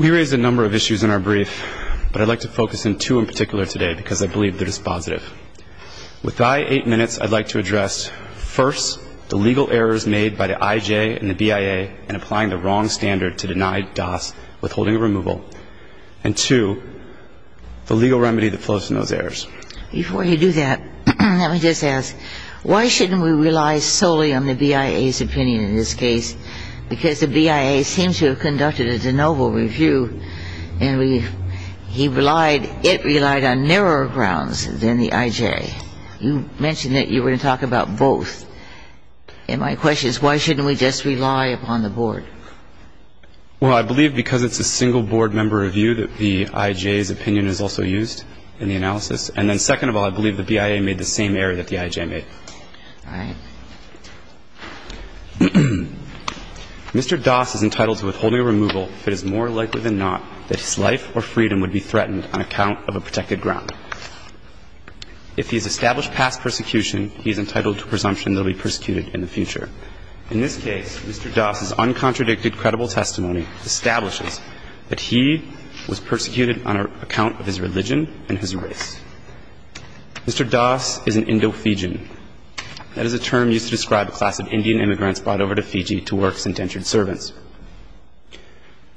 We raise a number of issues in our brief, but I'd like to focus on two in particular today because I believe they're dispositive. With my eight minutes, I'd like to address, first, the legal errors made by the IJ and the BIA in applying the wrong standard to deny DAS withholding of removal, and two, the legal remedy that flows from those errors. Before you do that, let me just ask, why shouldn't we rely solely on the BIA's opinion in this case? Because the BIA seems to have conducted a de novo review, and it relied on narrower grounds than the IJ. You mentioned that you were going to talk about both, and my question is, why shouldn't we just rely upon the board? Well, I believe because it's a single board member review that the IJ's opinion is also used in the analysis. And then, second of all, I believe the BIA made the same error that the IJ made. All right. Mr. DAS is entitled to withholding of removal if it is more likely than not that his life or freedom would be threatened on account of a protected ground. If he's established past persecution, he's entitled to presumption that he'll be persecuted in the future. In this case, Mr. DAS's uncontradicted, credible testimony establishes that he was persecuted on account of his religion and his race. Mr. DAS is an Indo-Fijian. That is a term used to describe a class of Indian immigrants brought over to Fiji to work as indentured servants.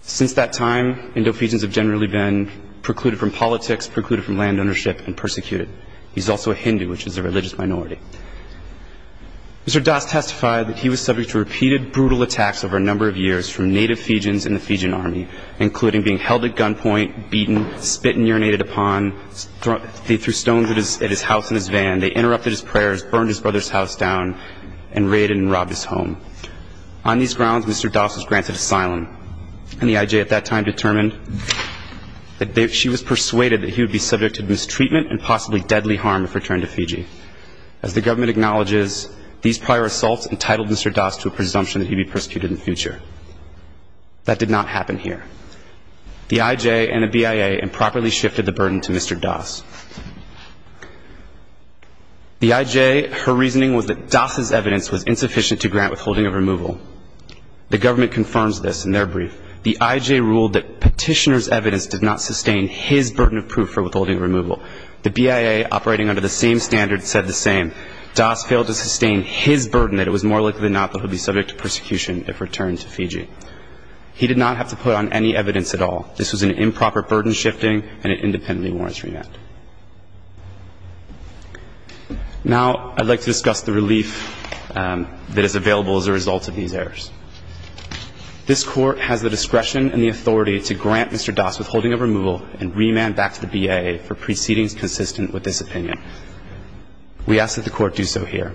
Since that time, Indo-Fijians have generally been precluded from politics, precluded from land ownership, and persecuted. He's also a Hindu, which is a religious minority. Mr. DAS testified that he was subject to repeated brutal attacks over a number of years from native Fijians in the Fijian army, including being held at gunpoint, beaten, spit and urinated upon, threw stones at his house in his van, they interrupted his prayers, burned his brother's house down, and raided and robbed his home. On these grounds, Mr. DAS was granted asylum. And the IJ at that time determined that she was persuaded that he would be subject to mistreatment and possibly deadly harm if returned to Fiji. As the government acknowledges, these prior assaults entitled Mr. DAS to a presumption that he'd be persecuted in the future. That did not happen here. The IJ and the BIA improperly shifted the burden to Mr. DAS. The IJ, her reasoning was that DAS's evidence was insufficient to grant withholding of removal. The government confirms this in their brief. The IJ ruled that petitioner's evidence did not sustain his burden of proof for withholding removal. The BIA, operating under the same standards, said the same. DAS failed to sustain his burden that it was more likely than not that he'd be subject to persecution if returned to Fiji. He did not have to put on any evidence at all. This was an improper burden shifting, and it independently warrants remand. Now I'd like to discuss the relief that is available as a result of these errors. This Court has the discretion and the authority to grant Mr. DAS withholding of removal and remand back to the BIA for proceedings consistent with this opinion. We ask that the Court do so here.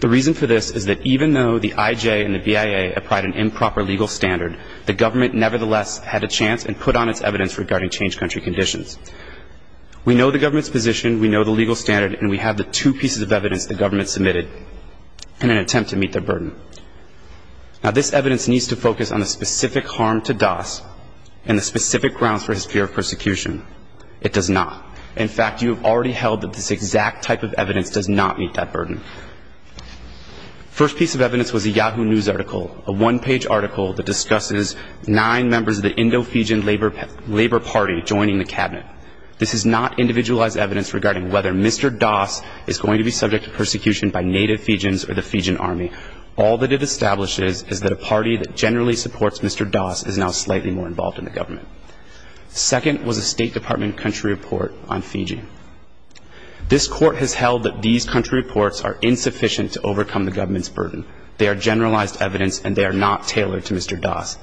The reason for this is that even though the IJ and the BIA applied an improper legal standard, the government nevertheless had a chance and put on its evidence regarding change country conditions. We know the government's position, we know the legal standard, and we have the two pieces of evidence the government submitted in an attempt to meet their burden. Now this evidence needs to focus on the specific harm to DAS and the specific grounds for his fear of persecution. It does not. In fact, you have already held that this exact type of evidence does not meet that burden. The first piece of evidence was a Yahoo News article, a one-page article that discusses nine members of the Indo-Fijian Labor Party joining the Cabinet. This is not individualized evidence regarding whether Mr. DAS is going to be subject to persecution by native Fijians or the Fijian Army. All that it establishes is that a party that generally supports Mr. DAS is now slightly more involved in the government. Second was a State Department country report on Fiji. This Court has held that these country reports are insufficient to overcome the government's burden. They are generalized evidence and they are not tailored to Mr. DAS.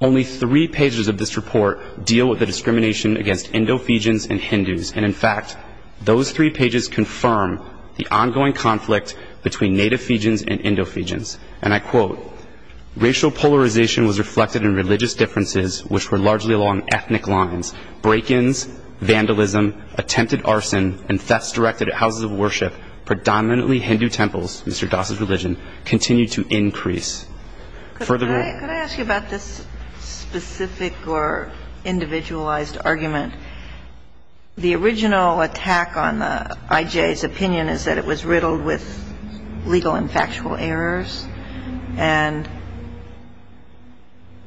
Only three pages of this report deal with the discrimination against Indo-Fijians and Hindus. And in fact, those three pages confirm the ongoing conflict between native Fijians and Indo-Fijians. And I quote, racial polarization was reflected in religious differences, which were largely along ethnic lines. Break-ins, vandalism, attempted arson, and thefts directed at houses of worship, predominantly Hindu temples, Mr. DAS's religion, continue to increase. Furthermore ---- Could I ask you about this specific or individualized argument? The original attack on the IJ's opinion is that it was riddled with legal and factual errors. And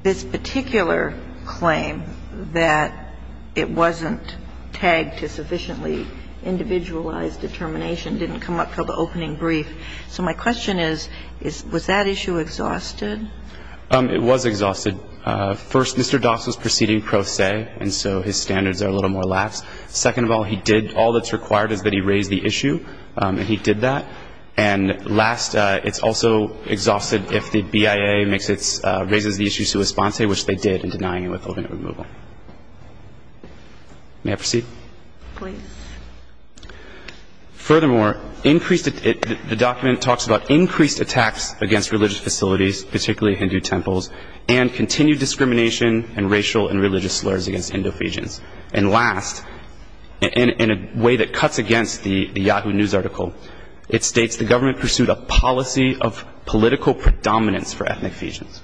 this particular claim that it wasn't tagged to sufficiently individualized determination didn't come up until the opening brief. So my question is, was that issue exhausted? It was exhausted. First, Mr. DAS was proceeding pro se, and so his standards are a little more lax. Second of all, he did, all that's required is that he raise the issue, and he did that. And last, it's also exhausted if the BIA makes its, raises the issue sui sponse, which they did in denying him withholding of removal. May I proceed? Please. Furthermore, increased, the document talks about increased attacks against religious facilities, particularly Hindu temples, and continued discrimination and racial and religious slurs against Indo-Fijians. And last, in a way that cuts against the Yahoo News article, it states the government pursued a policy of political predominance for ethnic Fijians.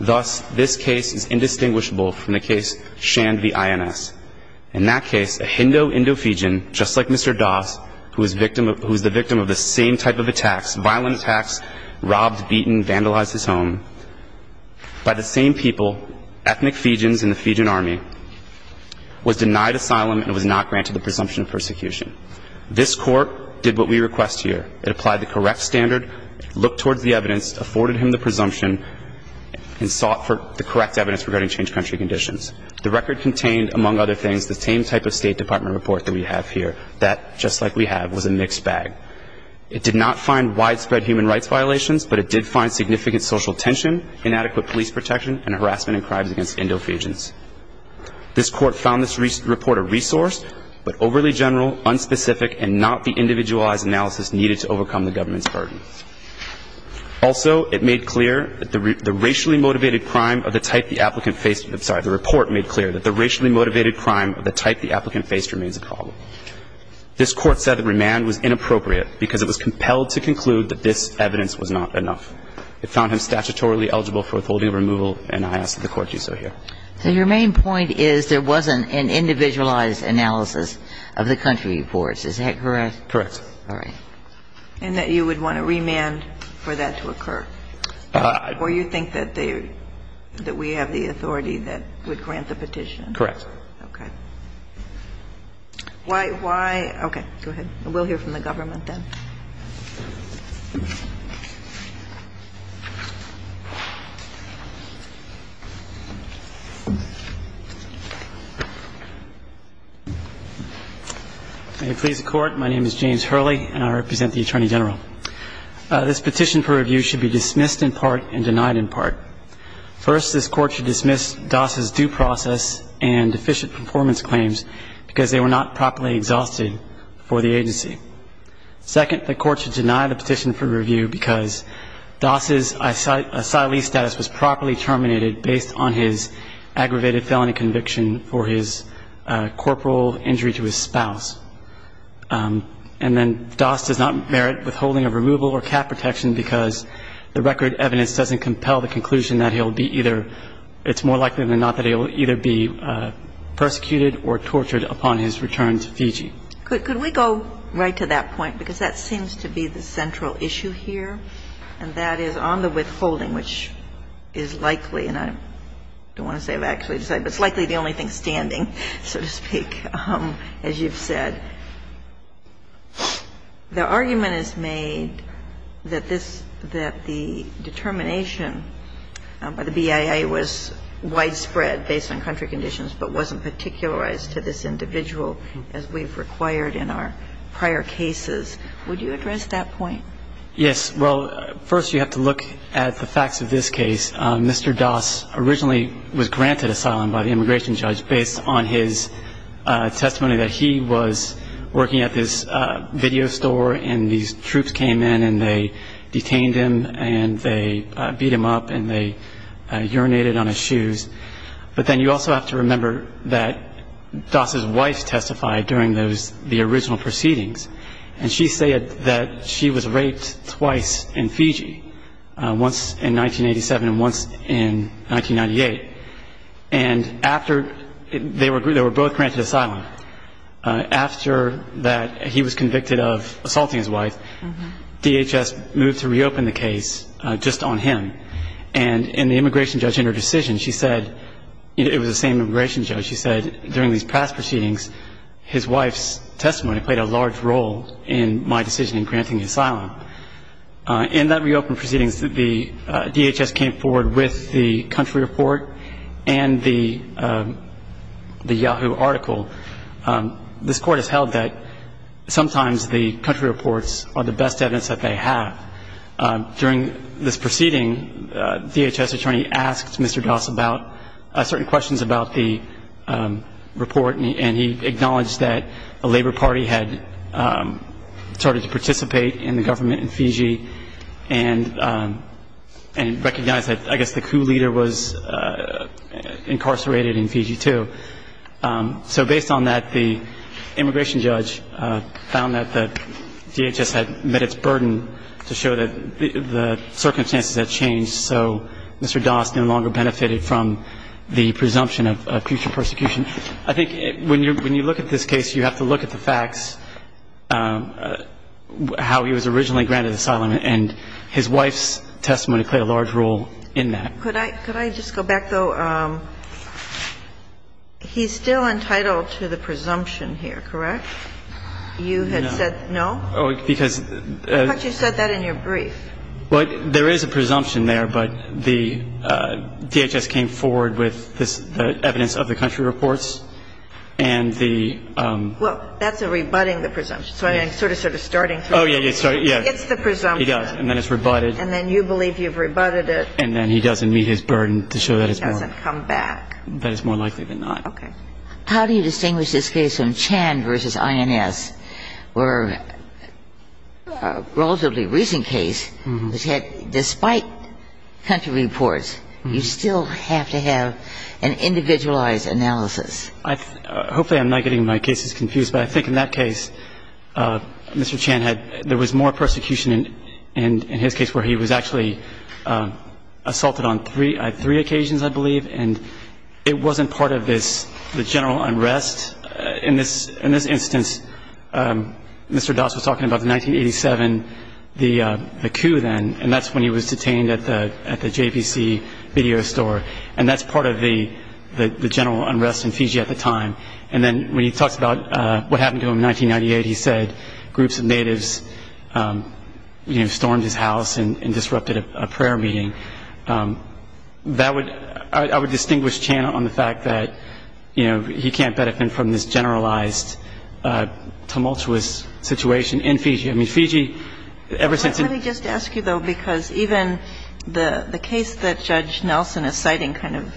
Thus, this case is indistinguishable from the case Shan v. INS. In that case, a Hindu Indo-Fijian, just like Mr. DAS, who is victim of, who is the victim of the same type of attacks, violent attacks, robbed, beaten, vandalized his home, by the same people, ethnic Fijians in the Fijian army, was denied asylum and was not granted the presumption of persecution. This Court did what we request here. It applied the correct standard, looked towards the evidence, afforded him the presumption, and sought for the correct evidence regarding change country conditions. The record contained, among other things, the same type of State Department report that we have here. That, just like we have, was a mixed bag. It did not find widespread human rights violations, but it did find significant social tension, inadequate police protection, and harassment and crimes against Indo-Fijians. This Court found this report a resource, but overly general, unspecific, and not the individualized analysis needed to overcome the government's burden. Also, it made clear that the racially motivated crime of the type the applicant faced, I'm sorry, the report made clear that the racially motivated crime of the type the applicant faced remains a problem. This Court said the remand was inappropriate because it was compelled to conclude that this evidence was not enough. It found him statutorily eligible for withholding removal, and I ask that the Court do so here. So your main point is there wasn't an individualized analysis of the country reports. Is that correct? Correct. All right. And that you would want a remand for that to occur? Or you think that we have the authority that would grant the petition? Correct. Okay. Why? Okay, go ahead. May it please the Court? My name is James Hurley, and I represent the Attorney General. This petition for review should be dismissed in part and denied in part. First, this Court should dismiss Doss's due process and deficient performance claims because they were not properly exhausted for the agency. Second, the Court should deny the petition for review because Doss's asylee status was properly terminated based on his aggravated felony conviction for his corporal injury to his spouse. And then Doss does not merit withholding of removal or cap protection because the record evidence doesn't compel the conclusion that he'll be either – it's more likely than not that he'll either be persecuted or tortured upon his return to Fiji. Could we go right to that point? Because that seems to be the central issue here, and that is on the withholding, which is likely – and I don't want to say I've actually decided, but it's likely the only thing standing, so to speak, as you've said. The argument is made that this – that the determination by the BIA was widespread based on country conditions but wasn't particularized to this individual as we've required in our prior cases. Would you address that point? Yes. Well, first you have to look at the facts of this case. Mr. Doss originally was granted asylum by the immigration judge based on his testimony that he was working at this video store and these troops came in and they detained him and they beat him up and they urinated on his shoes. But then you also have to remember that Doss's wife testified during those – the original proceedings, and she said that she was raped twice in Fiji, once in 1987 and once in 1998. And after – they were both granted asylum. After that, he was convicted of assaulting his wife. DHS moved to reopen the case just on him. And the immigration judge in her decision, she said – it was the same immigration judge – she said during these past proceedings his wife's testimony played a large role in my decision in granting the asylum. In that reopen proceedings, the DHS came forward with the country report and the Yahoo article. This court has held that sometimes the country reports are the best evidence that they have. During this proceeding, DHS attorney asked Mr. Doss about – certain questions about the report, and he acknowledged that a labor party had started to participate in the government in Fiji and recognized that, I guess, the coup leader was incarcerated in Fiji, too. So based on that, the immigration judge found that DHS had met its burden to show that the circumstances had changed, so Mr. Doss no longer benefited from the presumption of future persecution. I think when you look at this case, you have to look at the facts, how he was originally granted asylum, and his wife's testimony played a large role in that. Could I just go back, though? He's still entitled to the presumption here, correct? No. You had said no? Because – I thought you said that in your brief. Well, there is a presumption there, but the DHS came forward with the evidence of the country reports and the – Well, that's a rebutting the presumption. So I'm sort of starting through. Oh, yeah, yeah. It's the presumption. He does, and then it's rebutted. And then you believe you've rebutted it. And then he doesn't meet his burden to show that it's more – Doesn't come back. That it's more likely than not. Okay. How do you distinguish this case from Chan v. INS, where a relatively recent case, which had – despite country reports, you still have to have an individualized analysis? Hopefully I'm not getting my cases confused, but I think in that case, Mr. Chan had – there was more persecution in his case, where he was actually assaulted on three occasions, I believe. And it wasn't part of this – the general unrest. In this instance, Mr. Das was talking about the 1987 – the coup then. And that's when he was detained at the JVC video store. And that's part of the general unrest in Fiji at the time. And then when he talks about what happened to him in 1998, he said groups of natives stormed his house and disrupted a prayer meeting. That would – I would distinguish Chan on the fact that, you know, he can't benefit from this generalized tumultuous situation in Fiji. I mean, Fiji, ever since – Let me just ask you, though, because even the case that Judge Nelson is citing kind of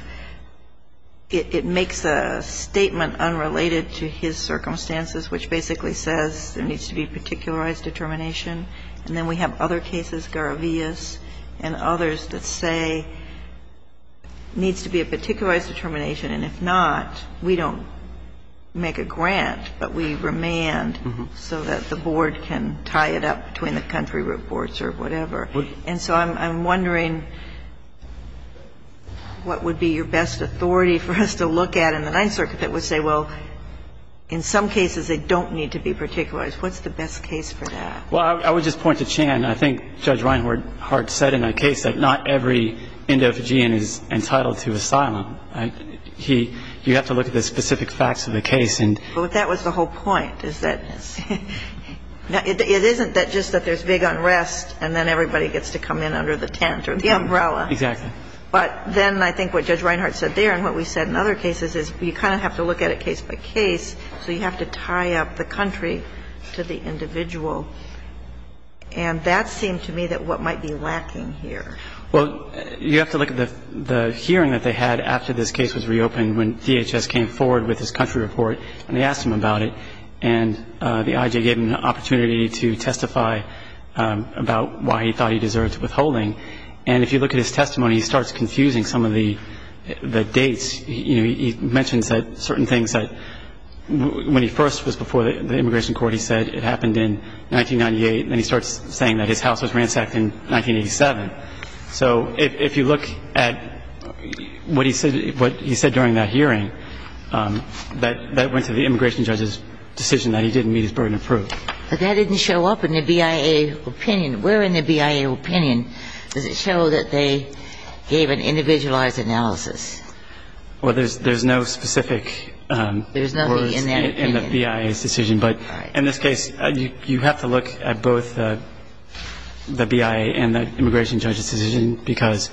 – it makes a statement unrelated to his circumstances, which basically says there needs to be particularized determination. And then we have other cases, Garavillas and others, that say there needs to be a particularized determination. And if not, we don't make a grant, but we remand so that the board can tie it up between the country reports or whatever. And so I'm wondering what would be your best authority for us to look at in the Ninth Circuit that would say, well, in some cases they don't need to be particularized. What's the best case for that? Well, I would just point to Chan. I think Judge Reinhardt said in a case that not every Indo-Fijian is entitled to asylum. He – you have to look at the specific facts of the case and – But that was the whole point, is that it isn't that just that there's big unrest and then everybody gets to come in under the tent or the umbrella. Exactly. But then I think what Judge Reinhardt said there and what we said in other cases is you kind of have to look at it case by case, so you have to tie up the country to the individual. And that seemed to me that what might be lacking here. Well, you have to look at the hearing that they had after this case was reopened when DHS came forward with this country report and they asked him about it. And the IJ gave him an opportunity to testify about why he thought he deserved withholding. And if you look at his testimony, he starts confusing some of the dates. You know, he mentions that certain things that when he first was before the immigration court, he said it happened in 1998. Then he starts saying that his house was ransacked in 1987. So if you look at what he said during that hearing, that went to the immigration judge's decision that he didn't meet his burden of proof. But that didn't show up in the BIA opinion. Where in the BIA opinion does it show that they gave an individualized analysis? Well, there's no specific words in the BIA's decision. But in this case, you have to look at both the BIA and the immigration judge's decision because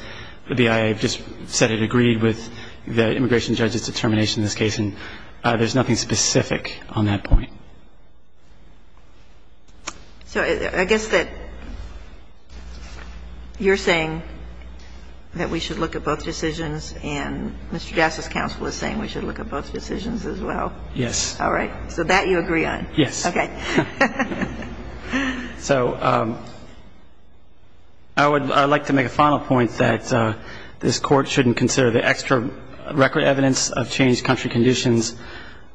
the BIA just said it agreed with the immigration judge's determination in this case, and there's nothing specific on that point. So I guess that you're saying that we should look at both decisions and Mr. Jass's counsel is saying we should look at both decisions as well. Yes. All right. So that you agree on. Yes. Okay. So I would like to make a final point that this court shouldn't consider the extra record evidence of changed country conditions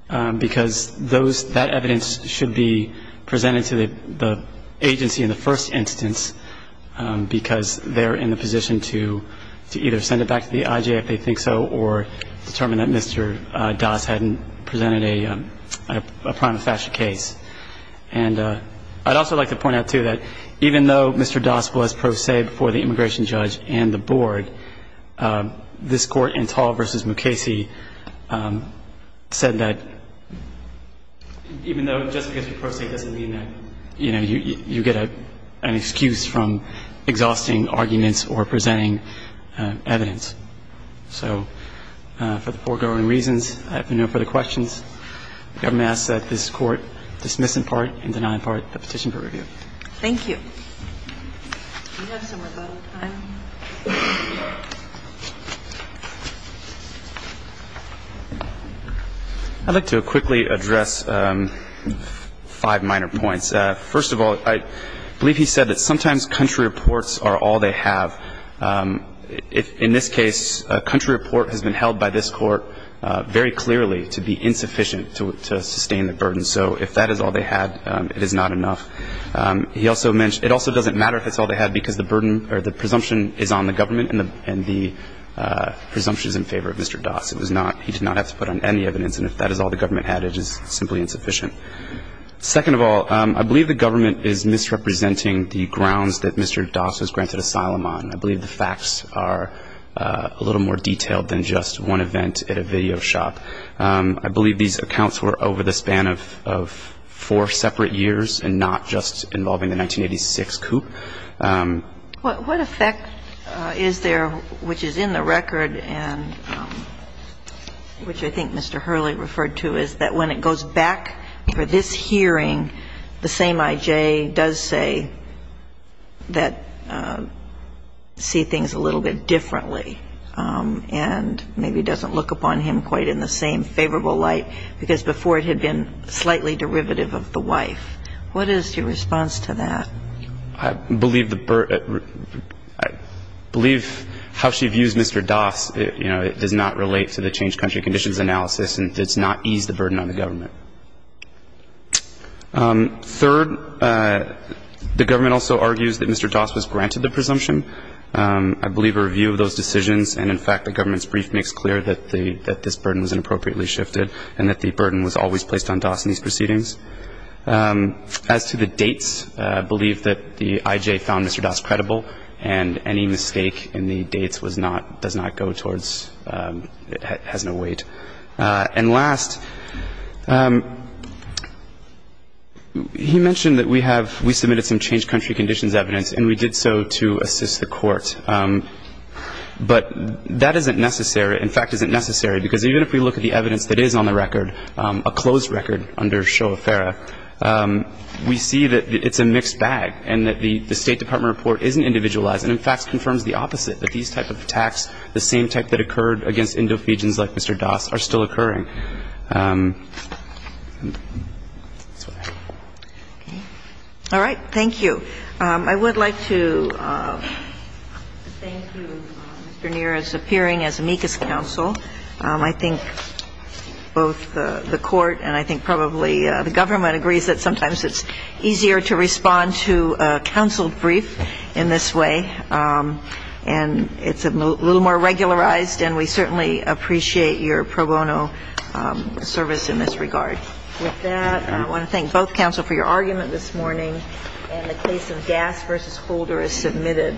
because that evidence should be presented to the agency in the first instance because they're in a position to either send it back to the IJ if they think so or determine that Mr. Das hadn't presented a prima facie case. And I'd also like to point out, too, that even though Mr. Das was pro se before the immigration judge and the board, this court in Tall v. Mukasey said that even though just because you're pro se doesn't mean that, you know, you get an excuse from exhausting arguments or presenting evidence. So for the foregoing reasons, I have no further questions. The government asks that this court dismiss in part and deny in part the petition for review. Thank you. We have some more time. I'd like to quickly address five minor points. First of all, I believe he said that sometimes country reports are all they have. In this case, a country report has been held by this court very clearly to be insufficient to sustain the burden. So if that is all they had, it is not enough. It also doesn't matter if it's all they had because the burden or the presumption is on the government and the presumption is in favor of Mr. Das. He did not have to put on any evidence. And if that is all the government had, it is simply insufficient. Second of all, I believe the government is misrepresenting the grounds that Mr. Das was granted asylum on. I believe the facts are a little more detailed than just one event at a video shop. I believe these accounts were over the span of four separate years and not just involving the 1986 coup. What effect is there which is in the record and which I think Mr. Hurley referred to is that when it goes back for this hearing, the same I.J. does say that see things a little bit differently and maybe doesn't look upon him quite in the same favorable light because before it had been slightly derivative of the wife. What is your response to that? I believe how she views Mr. Das does not relate to the changed country conditions analysis and does not ease the burden on the government. Third, the government also argues that Mr. Das was granted the presumption. I believe a review of those decisions and in fact the government's brief makes clear that this burden was inappropriately shifted and that the burden was always placed on Das in these proceedings. As to the dates, I believe that the I.J. found Mr. Das credible and any mistake in the dates was not, does not go towards, has no weight. And last, he mentioned that we have, we submitted some changed country conditions evidence and we did so to assist the court, but that isn't necessary, in fact isn't necessary because even if we look at the evidence that is on the record, a closed record under Shoah-Ferra, we see that it's a mixed bag and that the State Department report isn't individualized and in fact confirms the opposite, that these type of attacks, the same type that occurred against Indofegians like Mr. Das, are still occurring. All right. Thank you. I would like to thank you, Mr. Neer, as appearing as amicus counsel. I think both the court and I think probably the government agrees that sometimes it's easier to respond to a counsel brief in this way, and it's a little more regularized and we certainly appreciate your pro bono support. With that, I want to thank both counsel for your argument this morning and the case of Das v. Holder is submitted.